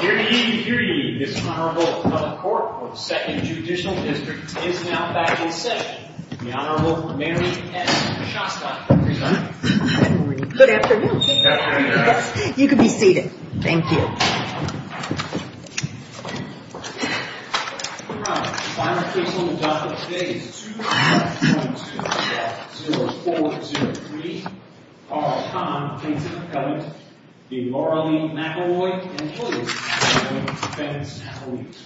Hear ye, hear ye. This Honorable Public Court of the 2nd Judicial District is now back in session. The Honorable Mary S. Shasta will present. Good morning. Good afternoon. You can be seated. Thank you. Your Honor, the final case on the docket today is 2-1-2-0-4-0-3. Carl Kahn, Plaintiff's Appellant. The Laura Lee McElroy, Employee's Appellant. The defendant's appellant.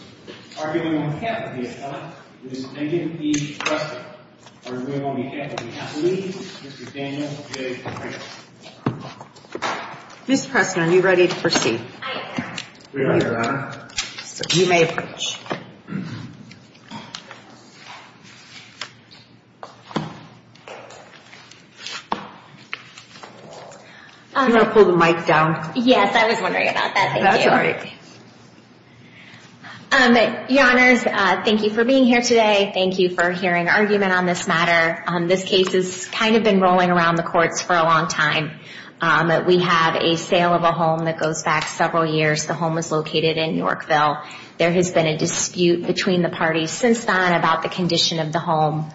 Arguing on behalf of the appellant is Megan E. Pressman. Arguing on behalf of the appellant is Mr. Daniel J. McCray. Ms. Pressman, are you ready to proceed? I am. We are, Your Honor. You may approach. Do you want to pull the mic down? Yes, I was wondering about that. Thank you. That's all right. Your Honors, thank you for being here today. Thank you for hearing argument on this matter. This case has kind of been rolling around the courts for a long time. We have a sale of a home that goes back several years. The home is located in Yorkville. There has been a dispute between the parties since then about the condition of the home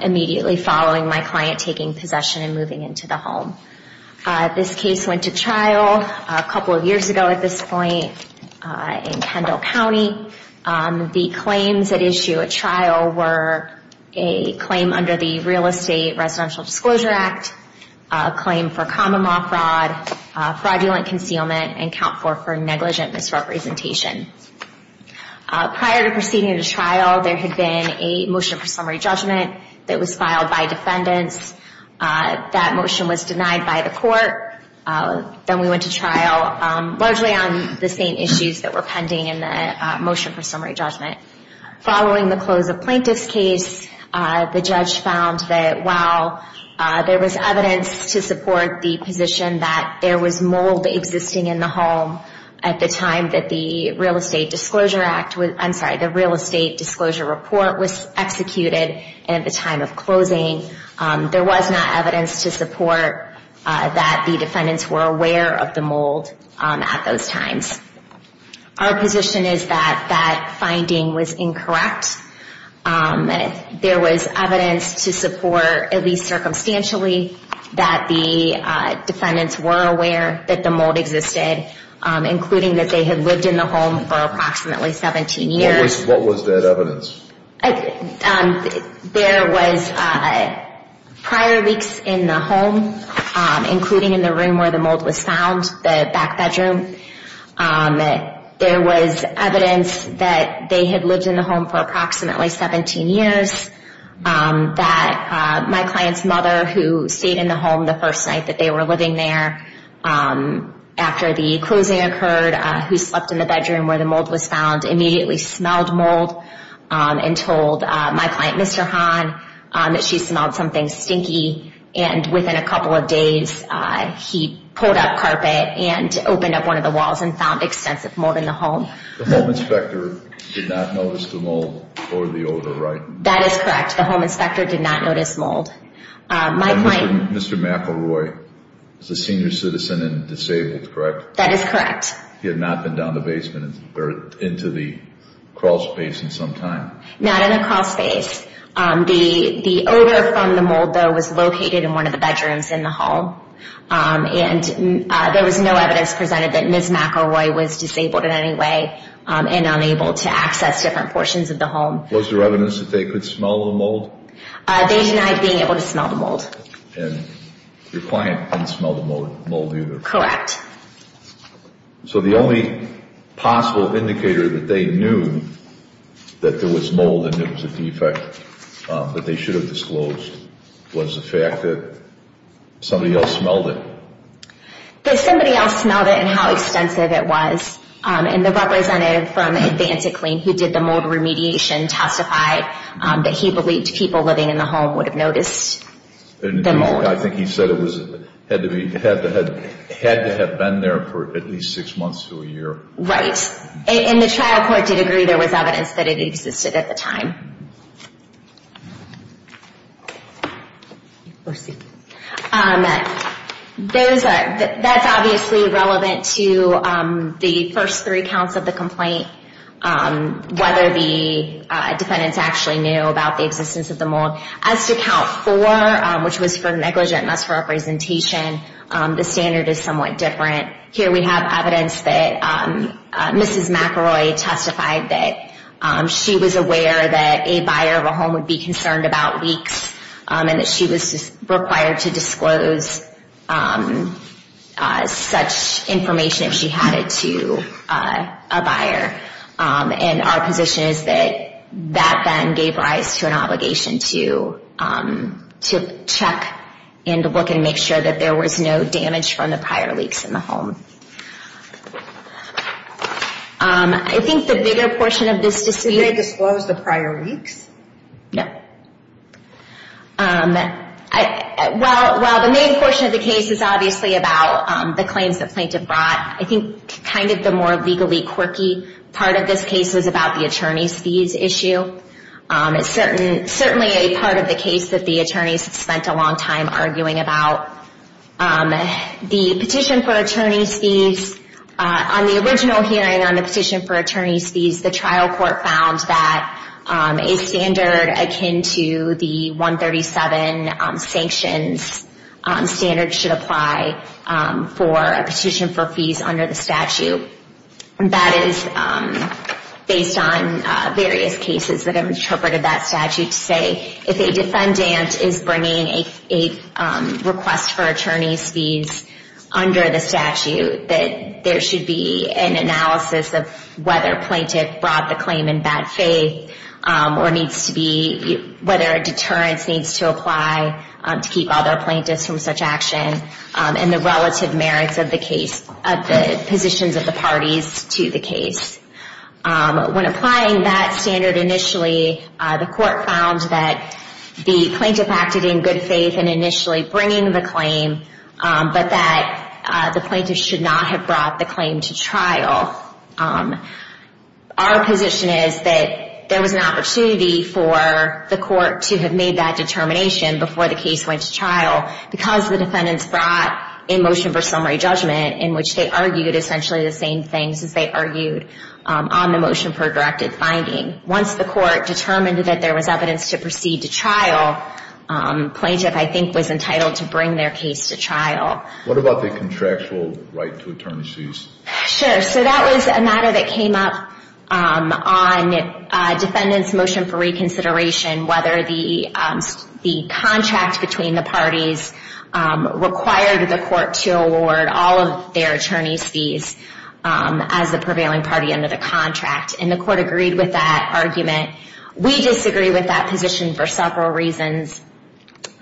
immediately following my client taking possession and moving into the home. This case went to trial a couple of years ago at this point in Kendall County. The claims at issue at trial were a claim under the Real Estate Residential Disclosure Act, a claim for common law fraud, fraudulent concealment, and count for negligent misrepresentation. Prior to proceeding to trial, there had been a motion for summary judgment that was filed by defendants. That motion was denied by the court. Then we went to trial, largely on the same issues that were pending in the motion for summary judgment. Following the close of Plaintiff's case, the judge found that while there was evidence to support the position that there was mold existing in the home at the time that the Real Estate Disclosure Report was executed and at the time of closing, there was not evidence to support that the defendants were aware of the mold at those times. Our position is that that finding was incorrect. There was evidence to support, at least circumstantially, that the defendants were aware that the mold existed, including that they had lived in the home for approximately 17 years. What was that evidence? There was prior leaks in the home, including in the room where the mold was found, the back bedroom. There was evidence that they had lived in the home for approximately 17 years, that my client's mother, who stayed in the home the first night that they were living there, after the closing occurred, who slept in the bedroom where the mold was found, immediately smelled mold and told my client, Mr. Hahn, that she smelled something stinky. And within a couple of days, he pulled up carpet and opened up one of the walls and found extensive mold in the home. The home inspector did not notice the mold or the odor, right? That is correct. The home inspector did not notice mold. And Mr. McElroy is a senior citizen and disabled, correct? That is correct. He had not been down the basement or into the crawl space in some time? Not in the crawl space. The odor from the mold, though, was located in one of the bedrooms in the home. And there was no evidence presented that Ms. McElroy was disabled in any way and unable to access different portions of the home. Was there evidence that they could smell the mold? They denied being able to smell the mold. And your client didn't smell the mold either? Correct. So the only possible indicator that they knew that there was mold and it was a defect that they should have disclosed was the fact that somebody else smelled it? That somebody else smelled it and how extensive it was. And the representative from Advancing Clean who did the mold remediation testified that he believed people living in the home would have noticed the mold. I think he said it had to have been there for at least six months to a year. Right. And the trial court did agree there was evidence that it existed at the time. That's obviously relevant to the first three counts of the complaint, whether the defendants actually knew about the existence of the mold. As to count four, which was for negligent mass representation, the standard is somewhat different. Here we have evidence that Ms. McElroy testified that she was aware that a buyer of a home would be concerned about leaks and that she was required to disclose such information if she had it to a buyer. And our position is that that then gave rise to an obligation to check and look and make sure that there was no damage from the prior leaks in the home. I think the bigger portion of this... Did they disclose the prior leaks? No. Well, the main portion of the case is obviously about the claims the plaintiff brought. I think kind of the more legally quirky part of this case was about the attorney's fees issue. It's certainly a part of the case that the attorneys spent a long time arguing about. The petition for attorney's fees, on the original hearing on the petition for attorney's fees, the trial court found that a standard akin to the 137 sanctions standard should apply for a petition for fees under the statute. That is based on various cases that have interpreted that statute to say if a defendant is bringing a request for attorney's fees under the statute, that there should be an analysis of whether a plaintiff brought the claim in bad faith or whether a deterrence needs to apply to keep other plaintiffs from such action. And the relative merits of the positions of the parties to the case. When applying that standard initially, the court found that the plaintiff acted in good faith in initially bringing the claim, but that the plaintiff should not have brought the claim to trial. Our position is that there was an opportunity for the court to have made that determination before the case went to trial because the defendants brought a motion for summary judgment in which they argued essentially the same things as they argued on the motion for directed finding. Once the court determined that there was evidence to proceed to trial, plaintiff, I think, was entitled to bring their case to trial. What about the contractual right to attorney's fees? Sure. So that was a matter that came up on defendant's motion for reconsideration, whether the contract between the parties required the court to award all of their attorney's fees as the prevailing party under the contract. And the court agreed with that argument. We disagree with that position for several reasons.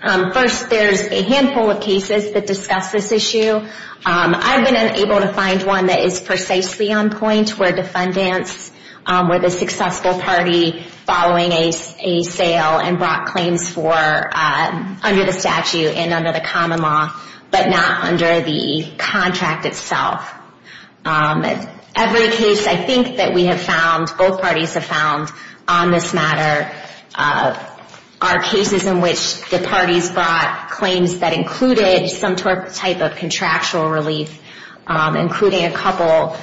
First, there's a handful of cases that discuss this issue. I've been able to find one that is precisely on point where defendants, where the successful party following a sale and brought claims for, under the statute and under the common law, but not under the contract itself. Every case I think that we have found, both parties have found on this matter, are cases in which the parties brought claims that included some type of contractual relief, including a couple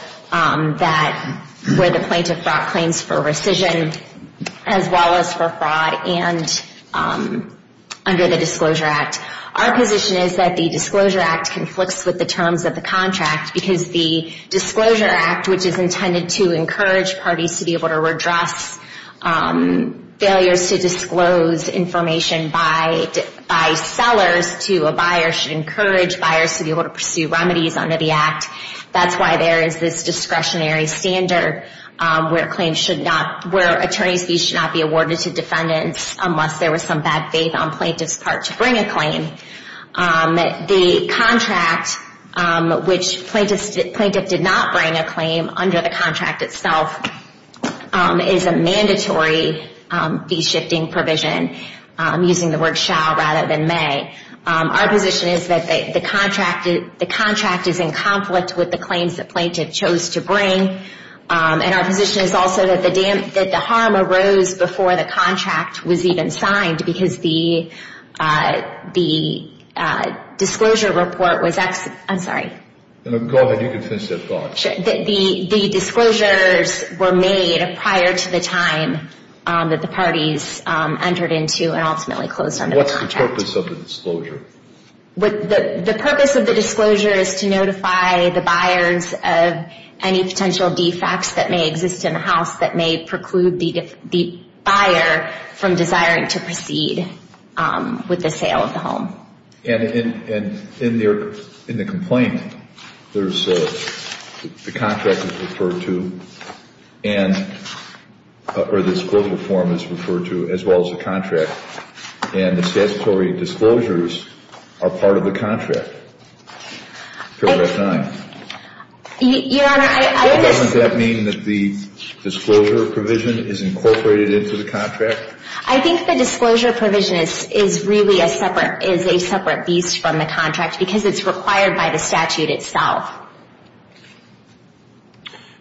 where the plaintiff brought claims for rescission as well as for fraud and under the Disclosure Act. Our position is that the Disclosure Act conflicts with the terms of the contract because the Disclosure Act, which is intended to encourage parties to be able to redress should encourage buyers to be able to pursue remedies under the Act. That's why there is this discretionary standard where attorneys' fees should not be awarded to defendants unless there was some bad faith on plaintiff's part to bring a claim. The contract, which plaintiff did not bring a claim under the contract itself, is a mandatory fee-shifting provision, using the word shall rather than may. Our position is that the contract is in conflict with the claims that plaintiff chose to bring, and our position is also that the harm arose before the contract was even signed because the disclosure report was ex—I'm sorry. Go ahead. You can finish that thought. The disclosures were made prior to the time that the parties entered into and ultimately closed under the contract. What's the purpose of the disclosure? The purpose of the disclosure is to notify the buyers of any potential defects that may exist in the house that may preclude the buyer from desiring to proceed with the sale of the home. And in the complaint, the contract is referred to, or the disclosure form is referred to, as well as the contract. And the statutory disclosures are part of the contract prior to that time. Your Honor, I was just— Doesn't that mean that the disclosure provision is incorporated into the contract? I think the disclosure provision is really a separate beast from the contract because it's required by the statute itself.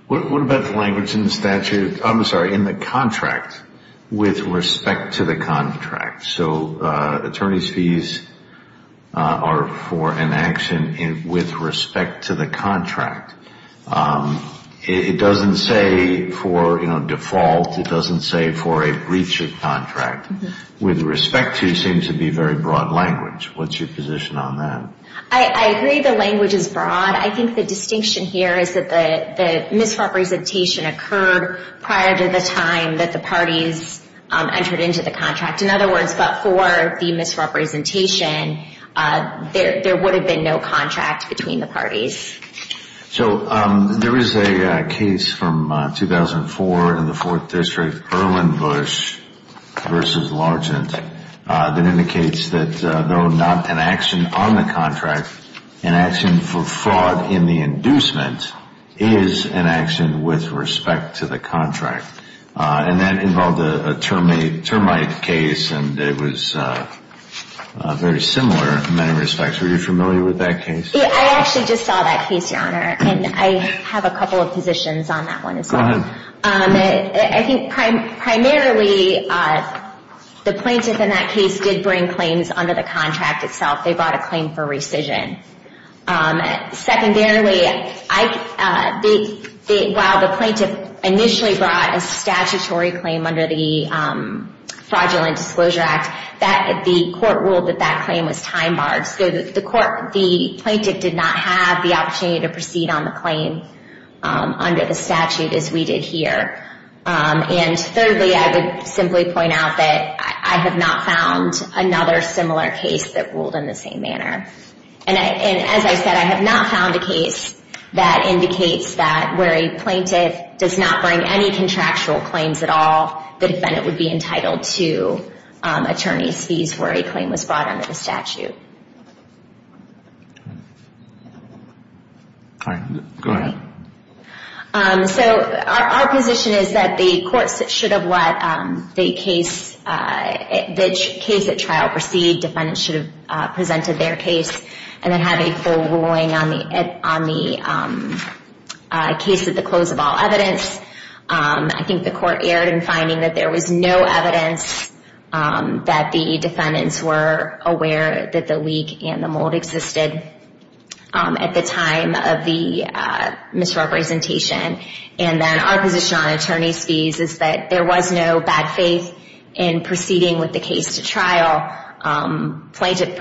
What about the language in the statute—I'm sorry, in the contract with respect to the contract? So attorney's fees are for an action with respect to the contract. It doesn't say for, you know, default. It doesn't say for a breach of contract. With respect to seems to be very broad language. What's your position on that? I agree the language is broad. I think the distinction here is that the misrepresentation occurred prior to the time that the parties entered into the contract. In other words, but for the misrepresentation, there would have been no contract between the parties. So there is a case from 2004 in the Fourth District, Erwin Bush v. Largent, that indicates that though not an action on the contract, an action for fraud in the inducement is an action with respect to the contract. And that involved a termite case, and it was very similar in many respects. Are you familiar with that case? I actually just saw that case, Your Honor, and I have a couple of positions on that one as well. Go ahead. I think primarily the plaintiff in that case did bring claims under the contract itself. They brought a claim for rescission. Secondarily, while the plaintiff initially brought a statutory claim under the Fraudulent Disclosure Act, the court ruled that that claim was time-barred. So the plaintiff did not have the opportunity to proceed on the claim under the statute as we did here. And thirdly, I would simply point out that I have not found another similar case that ruled in the same manner. And as I said, I have not found a case that indicates that where a plaintiff does not bring any contractual claims at all, the defendant would be entitled to attorney's fees where a claim was brought under the statute. All right. Go ahead. So our position is that the courts should have let the case at trial proceed. Defendants should have presented their case and then had a full ruling on the case at the close of all evidence. I think the court erred in finding that there was no evidence that the defendants were aware that the leak and the mold existed at the time of the misrepresentation. And then our position on attorney's fees is that there was no bad faith in proceeding with the case to trial. The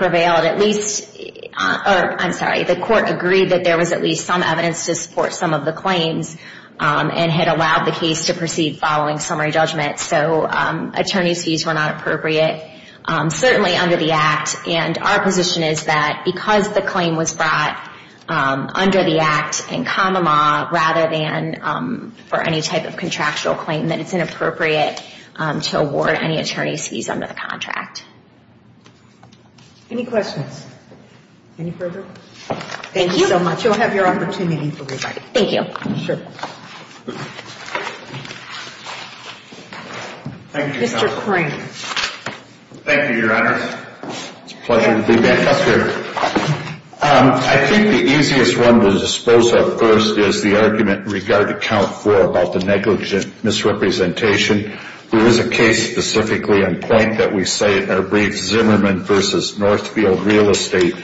court agreed that there was at least some evidence to support some of the claims and had allowed the case to proceed following summary judgment. So attorney's fees were not appropriate, certainly under the Act. And our position is that because the claim was brought under the Act in common law, rather than for any type of contractual claim, that it's inappropriate to award any attorney's fees under the contract. Any questions? Any further? Thank you so much. You'll have your opportunity for rebuttal. Thank you. Sure. Mr. Crane. Thank you, Your Honor. It's a pleasure to be back up here. I think the easiest one to dispose of first is the argument in regard to Count 4 about the negligent misrepresentation. There is a case specifically on point that we cite in our brief, Zimmerman v. Northfield Real Estate,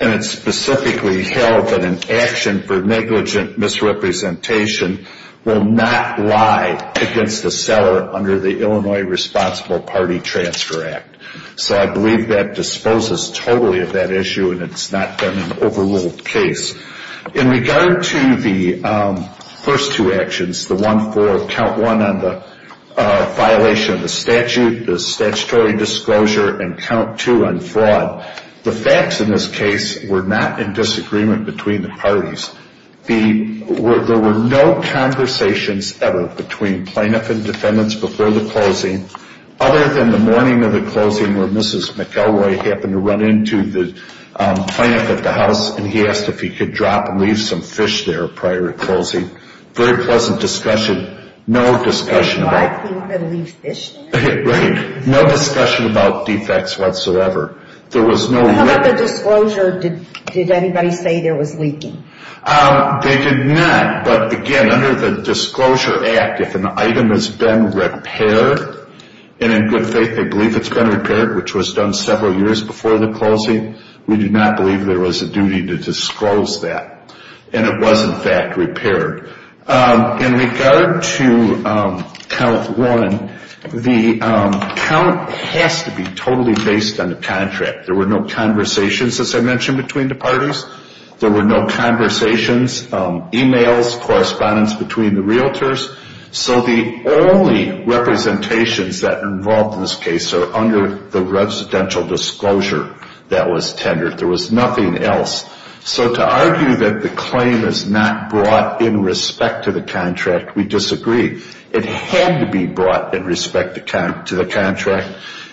and it's specifically held that an action for negligent misrepresentation will not lie against the seller under the Illinois Responsible Party Transfer Act. So I believe that disposes totally of that issue and it's not been an overruled case. In regard to the first two actions, the one for Count 1 on the violation of the statute, the statutory disclosure, and Count 2 on fraud, the facts in this case were not in disagreement between the parties. There were no conversations ever between plaintiff and defendants before the closing, other than the morning of the closing where Mrs. McElroy happened to run into the plaintiff at the house and he asked if he could drop and leave some fish there prior to closing. Very pleasant discussion. No discussion about... Dropping and leave fish there? Right. No discussion about defects whatsoever. There was no... How about the disclosure? Did anybody say there was leaking? They did not, but again, under the Disclosure Act, if an item has been repaired, and in good faith they believe it's been repaired, which was done several years before the closing, we do not believe there was a duty to disclose that, and it was in fact repaired. In regard to Count 1, the count has to be totally based on the contract. There were no conversations, as I mentioned, between the parties. There were no conversations, emails, correspondence between the realtors. So the only representations that are involved in this case are under the residential disclosure that was tendered. There was nothing else. So to argue that the claim is not brought in respect to the contract, we disagree. It had to be brought in respect to the contract,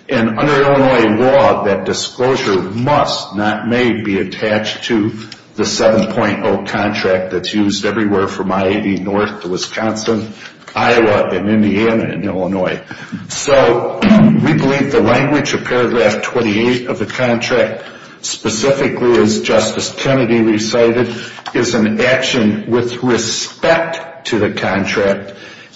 and under Illinois law, that disclosure must not may be attached to the 7.0 contract that's used everywhere from I-80 north to Wisconsin, Iowa, and Indiana and Illinois. So we believe the language of paragraph 28 of the contract, specifically as Justice Kennedy recited, is an action with respect to the contract.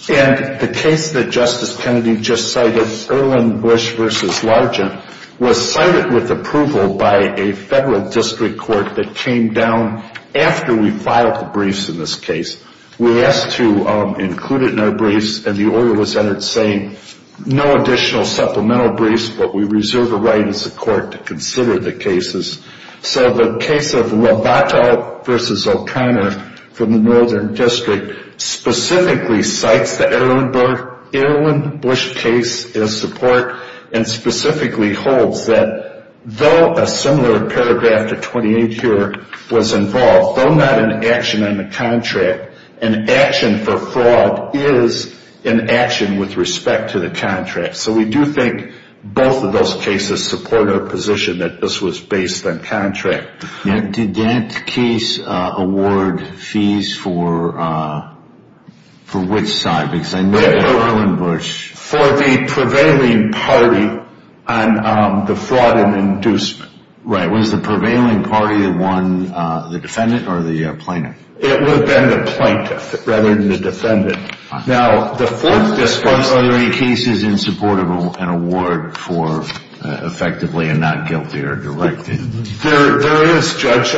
And the case that Justice Kennedy just cited, Erlin Bush v. Largent, was cited with approval by a federal district court that came down after we filed the briefs in this case. We asked to include it in our briefs, and the order was entered saying, no additional supplemental briefs, but we reserve the right as a court to consider the cases. So the case of Lobato v. O'Connor from the northern district specifically cites the Erlin Bush case as support and specifically holds that though a similar paragraph to 28 here was involved, though not an action on the contract, an action for fraud is an action with respect to the contract. So we do think both of those cases support our position that this was based on contract. Did that case award fees for which side? For the prevailing party on the fraud and inducement. Right. Was the prevailing party the defendant or the plaintiff? It would have been the plaintiff rather than the defendant. Are there any cases in support of an award for effectively a not guilty or directed? There is, Judge.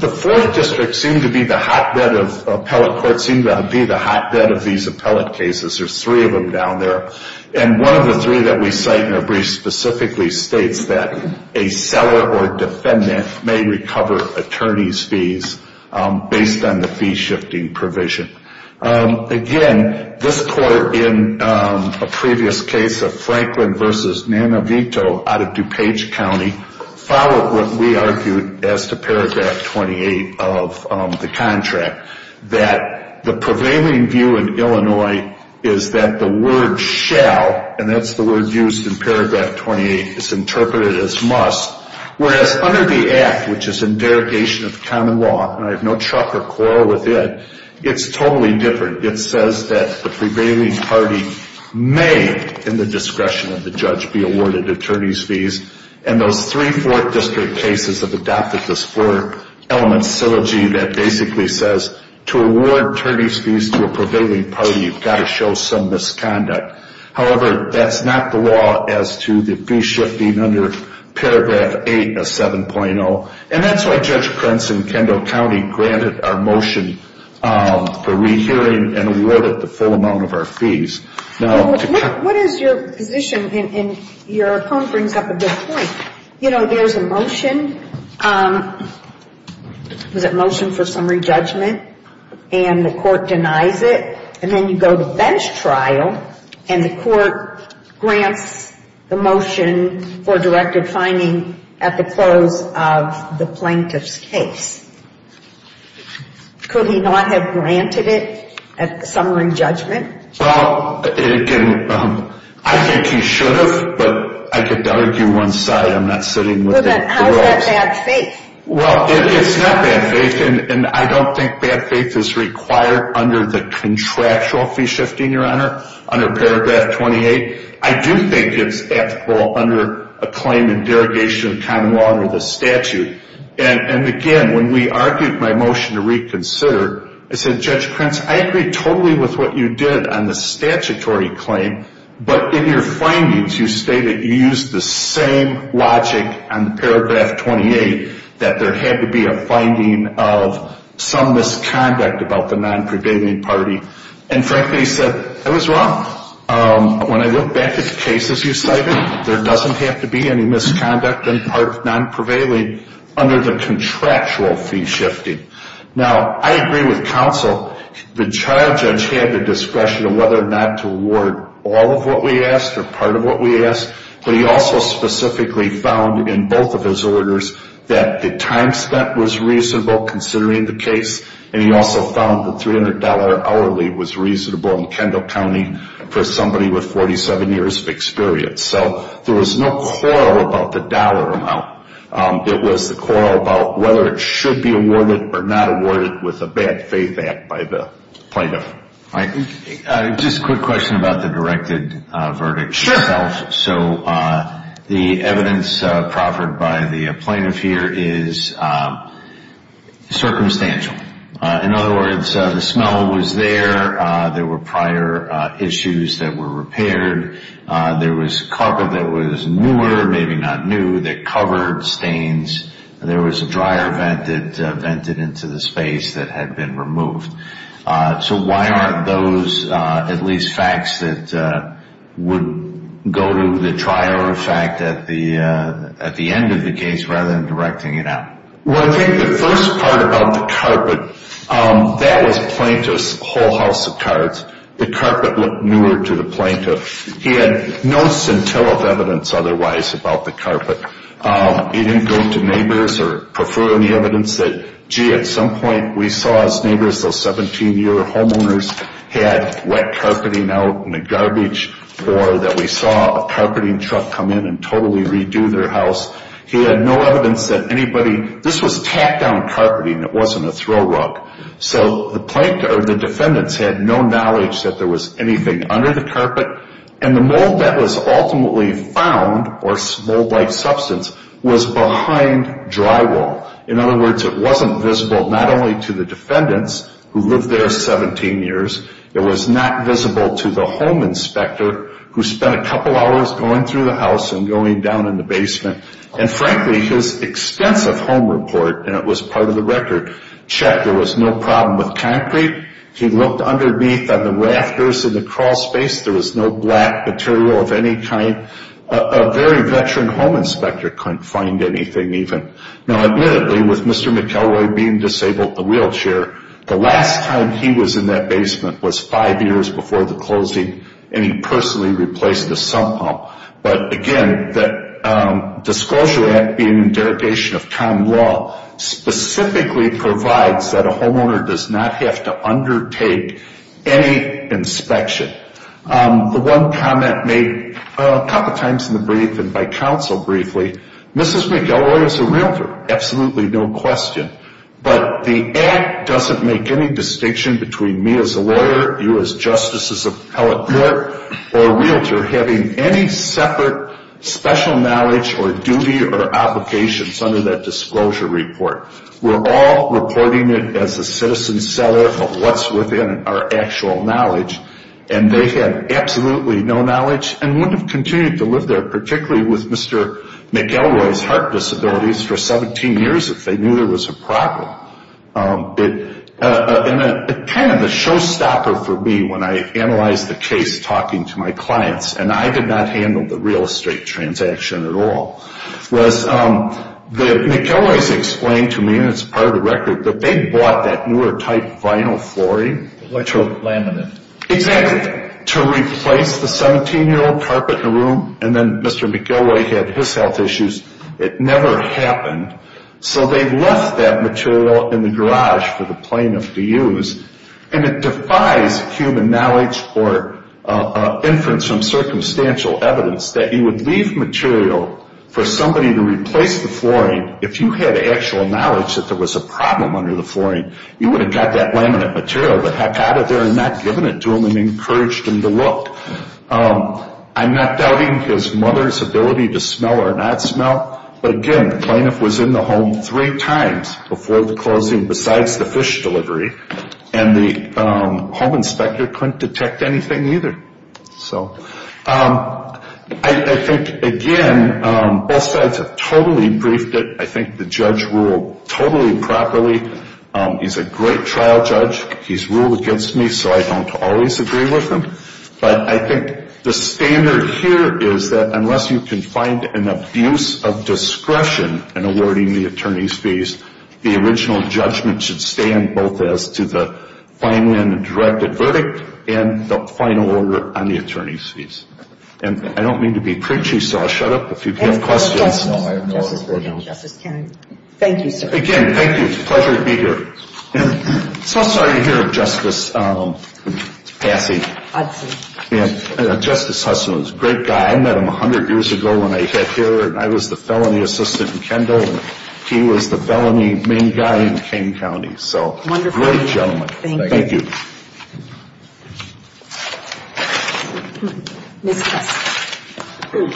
The fourth district seemed to be the hotbed of appellate courts, seemed to be the hotbed of these appellate cases. There's three of them down there. And one of the three that we cite in our brief specifically states that a seller or defendant may recover attorney's fees based on the fee shifting provision. Again, this court in a previous case of Franklin v. Nanavito out of DuPage County followed what we argued as to paragraph 28 of the contract, that the prevailing view in Illinois is that the word shall, and that's the word used in paragraph 28, is interpreted as must, whereas under the Act, which is in derogation of the common law, and I have no truck or quarrel with it, it's totally different. It says that the prevailing party may, in the discretion of the judge, be awarded attorney's fees. And those three fourth district cases have adopted this four element syllogy that basically says to award attorney's fees to a prevailing party, you've got to show some misconduct. However, that's not the law as to the fee shifting under paragraph 8 of 7.0. And that's why Judge Krentz in Kendall County granted our motion for rehearing and awarded the full amount of our fees. What is your position, and your poem brings up a good point. You know, there's a motion, was it motion for summary judgment, and the court denies it, and then you go to bench trial and the court grants the motion for directed finding at the close of the plaintiff's case. Could he not have granted it at summary judgment? Well, again, I think he should have, but I could argue one side, I'm not sitting with the courts. How is that bad faith? Well, it's not bad faith, and I don't think bad faith is required under the contractual fee shifting, Your Honor, under paragraph 28. I do think it's applicable under a claim in derogation of common law under the statute. And again, when we argued my motion to reconsider, I said, Judge Krentz, I agree totally with what you did on the statutory claim, but in your findings you state that you used the same logic on paragraph 28, that there had to be a finding of some misconduct about the non-prevailing party. And frankly, he said, I was wrong. When I look back at the cases you cited, there doesn't have to be any misconduct in part non-prevailing under the contractual fee shifting. Now, I agree with counsel. The trial judge had the discretion of whether or not to award all of what we asked or part of what we asked, but he also specifically found in both of his orders that the time spent was reasonable considering the case, and he also found the $300 hourly was reasonable in Kendall County for somebody with 47 years of experience. So there was no quarrel about the dollar amount. It was the quarrel about whether it should be awarded or not awarded with a bad faith act by the plaintiff. Just a quick question about the directed verdict itself. Sure. So the evidence proffered by the plaintiff here is circumstantial. In other words, the smell was there. There were prior issues that were repaired. There was carpet that was newer, maybe not new, that covered stains. There was a dryer vent that vented into the space that had been removed. So why aren't those at least facts that would go to the trial or fact at the end of the case rather than directing it out? Well, I think the first part about the carpet, that was plaintiff's whole house of cards. The carpet looked newer to the plaintiff. He had no scintillant evidence otherwise about the carpet. He didn't go to neighbors or prefer any evidence that, gee, at some point we saw his neighbors, those 17-year-old homeowners, had wet carpeting out in the garbage or that we saw a carpeting truck come in and totally redo their house. He had no evidence that anybody – this was tacked-down carpeting. It wasn't a throw rug. So the defendants had no knowledge that there was anything under the carpet. The mold that was ultimately found, or mold-like substance, was behind drywall. In other words, it wasn't visible not only to the defendants who lived there 17 years. It was not visible to the home inspector who spent a couple hours going through the house and going down in the basement. Frankly, his extensive home report, and it was part of the record, checked there was no problem with concrete. He looked underneath on the rafters in the crawl space. There was no black material of any kind. A very veteran home inspector couldn't find anything even. Now, admittedly, with Mr. McElroy being disabled in the wheelchair, the last time he was in that basement was five years before the closing, and he personally replaced the sump pump. But, again, that Disclosure Act being in derogation of common law specifically provides that a homeowner does not have to undertake any inspection. The one comment made a couple times in the brief and by counsel briefly, Mrs. McElroy is a realtor, absolutely no question. But the Act doesn't make any distinction between me as a lawyer, you as justice's appellate court, or a realtor having any separate special knowledge or duty or obligations under that disclosure report. We're all reporting it as a citizen seller of what's within our actual knowledge, and they had absolutely no knowledge and wouldn't have continued to live there, particularly with Mr. McElroy's heart disabilities for 17 years if they knew there was a problem. Kind of a showstopper for me when I analyzed the case talking to my clients, and I did not handle the real estate transaction at all, was that McElroy's explained to me, and it's part of the record, that they bought that newer type vinyl flooring to replace the 17-year-old carpet in the room, and then Mr. McElroy had his health issues. It never happened. So they left that material in the garage for the plaintiff to use, and it defies human knowledge or inference from circumstantial evidence that he would leave material for somebody to replace the flooring if you had actual knowledge that there was a problem under the flooring. You would have got that laminate material, but had got it there and not given it to him and encouraged him to look. I'm not doubting his mother's ability to smell or not smell, but again, the plaintiff was in the home three times before the closing besides the fish delivery, and the home inspector couldn't detect anything either. I think, again, both sides have totally briefed it. I think the judge ruled totally properly. He's a great trial judge. He's ruled against me, so I don't always agree with him, but I think the standard here is that unless you can find an abuse of discretion in awarding the attorney's fees, the original judgment should stand both as to the final and the directed verdict and the final order on the attorney's fees. And I don't mean to be preachy, so I'll shut up if you have questions. Justice Kennedy, thank you, sir. Again, thank you. It's a pleasure to be here. I'm so sorry to hear of Justice Hussey. Justice Hussey was a great guy. I met him 100 years ago when I sat here, and I was the felony assistant in Kendall, and he was the felony main guy in King County, so great gentleman. Thank you. Ms. Kessler.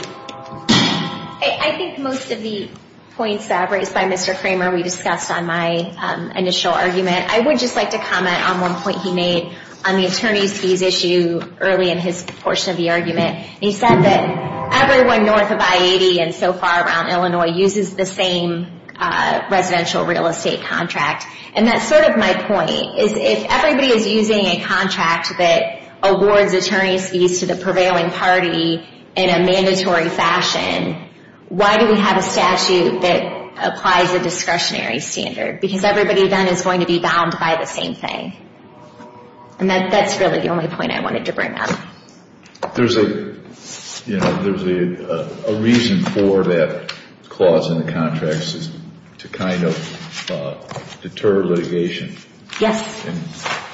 I think most of the points that were raised by Mr. Kramer we discussed on my initial argument. I would just like to comment on one point he made on the attorney's fees issue early in his portion of the argument. He said that everyone north of I-80 and so far around Illinois uses the same residential real estate contract, and that's sort of my point, is if everybody is using a contract that awards attorney's fees to the prevailing party in a mandatory fashion, why do we have a statute that applies a discretionary standard? Because everybody then is going to be bound by the same thing. And that's really the only point I wanted to bring up. There's a reason for that clause in the contracts to kind of deter litigation. Yes. And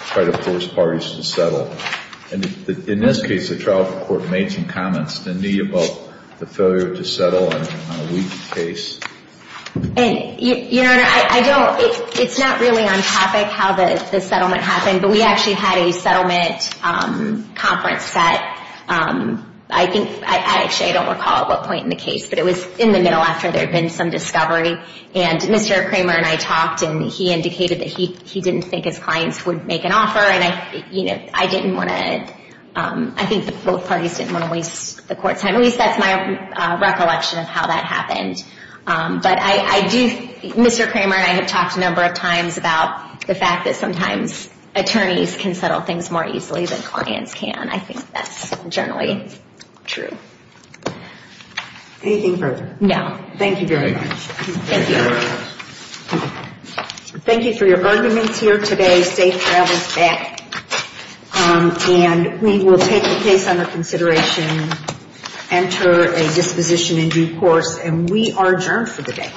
try to force parties to settle. In this case, the trial court made some comments to me about the failure to settle on a weak case. Your Honor, I don't, it's not really on topic how the settlement happened, but we actually had a settlement conference that I think, I actually don't recall at what point in the case, but it was in the middle after there had been some discovery. And Mr. Kramer and I talked, and he indicated that he didn't think his clients would make an offer, and I didn't want to, I think both parties didn't want to waste the court's time. At least that's my recollection of how that happened. But I do, Mr. Kramer and I have talked a number of times about the fact that sometimes attorneys can settle things more easily than clients can. I think that's generally true. Anything further? No. Thank you very much. Thank you. Thank you for your arguments here today. Safe travels back. And we will take the case under consideration, enter a disposition in due course, and we are adjourned for the day.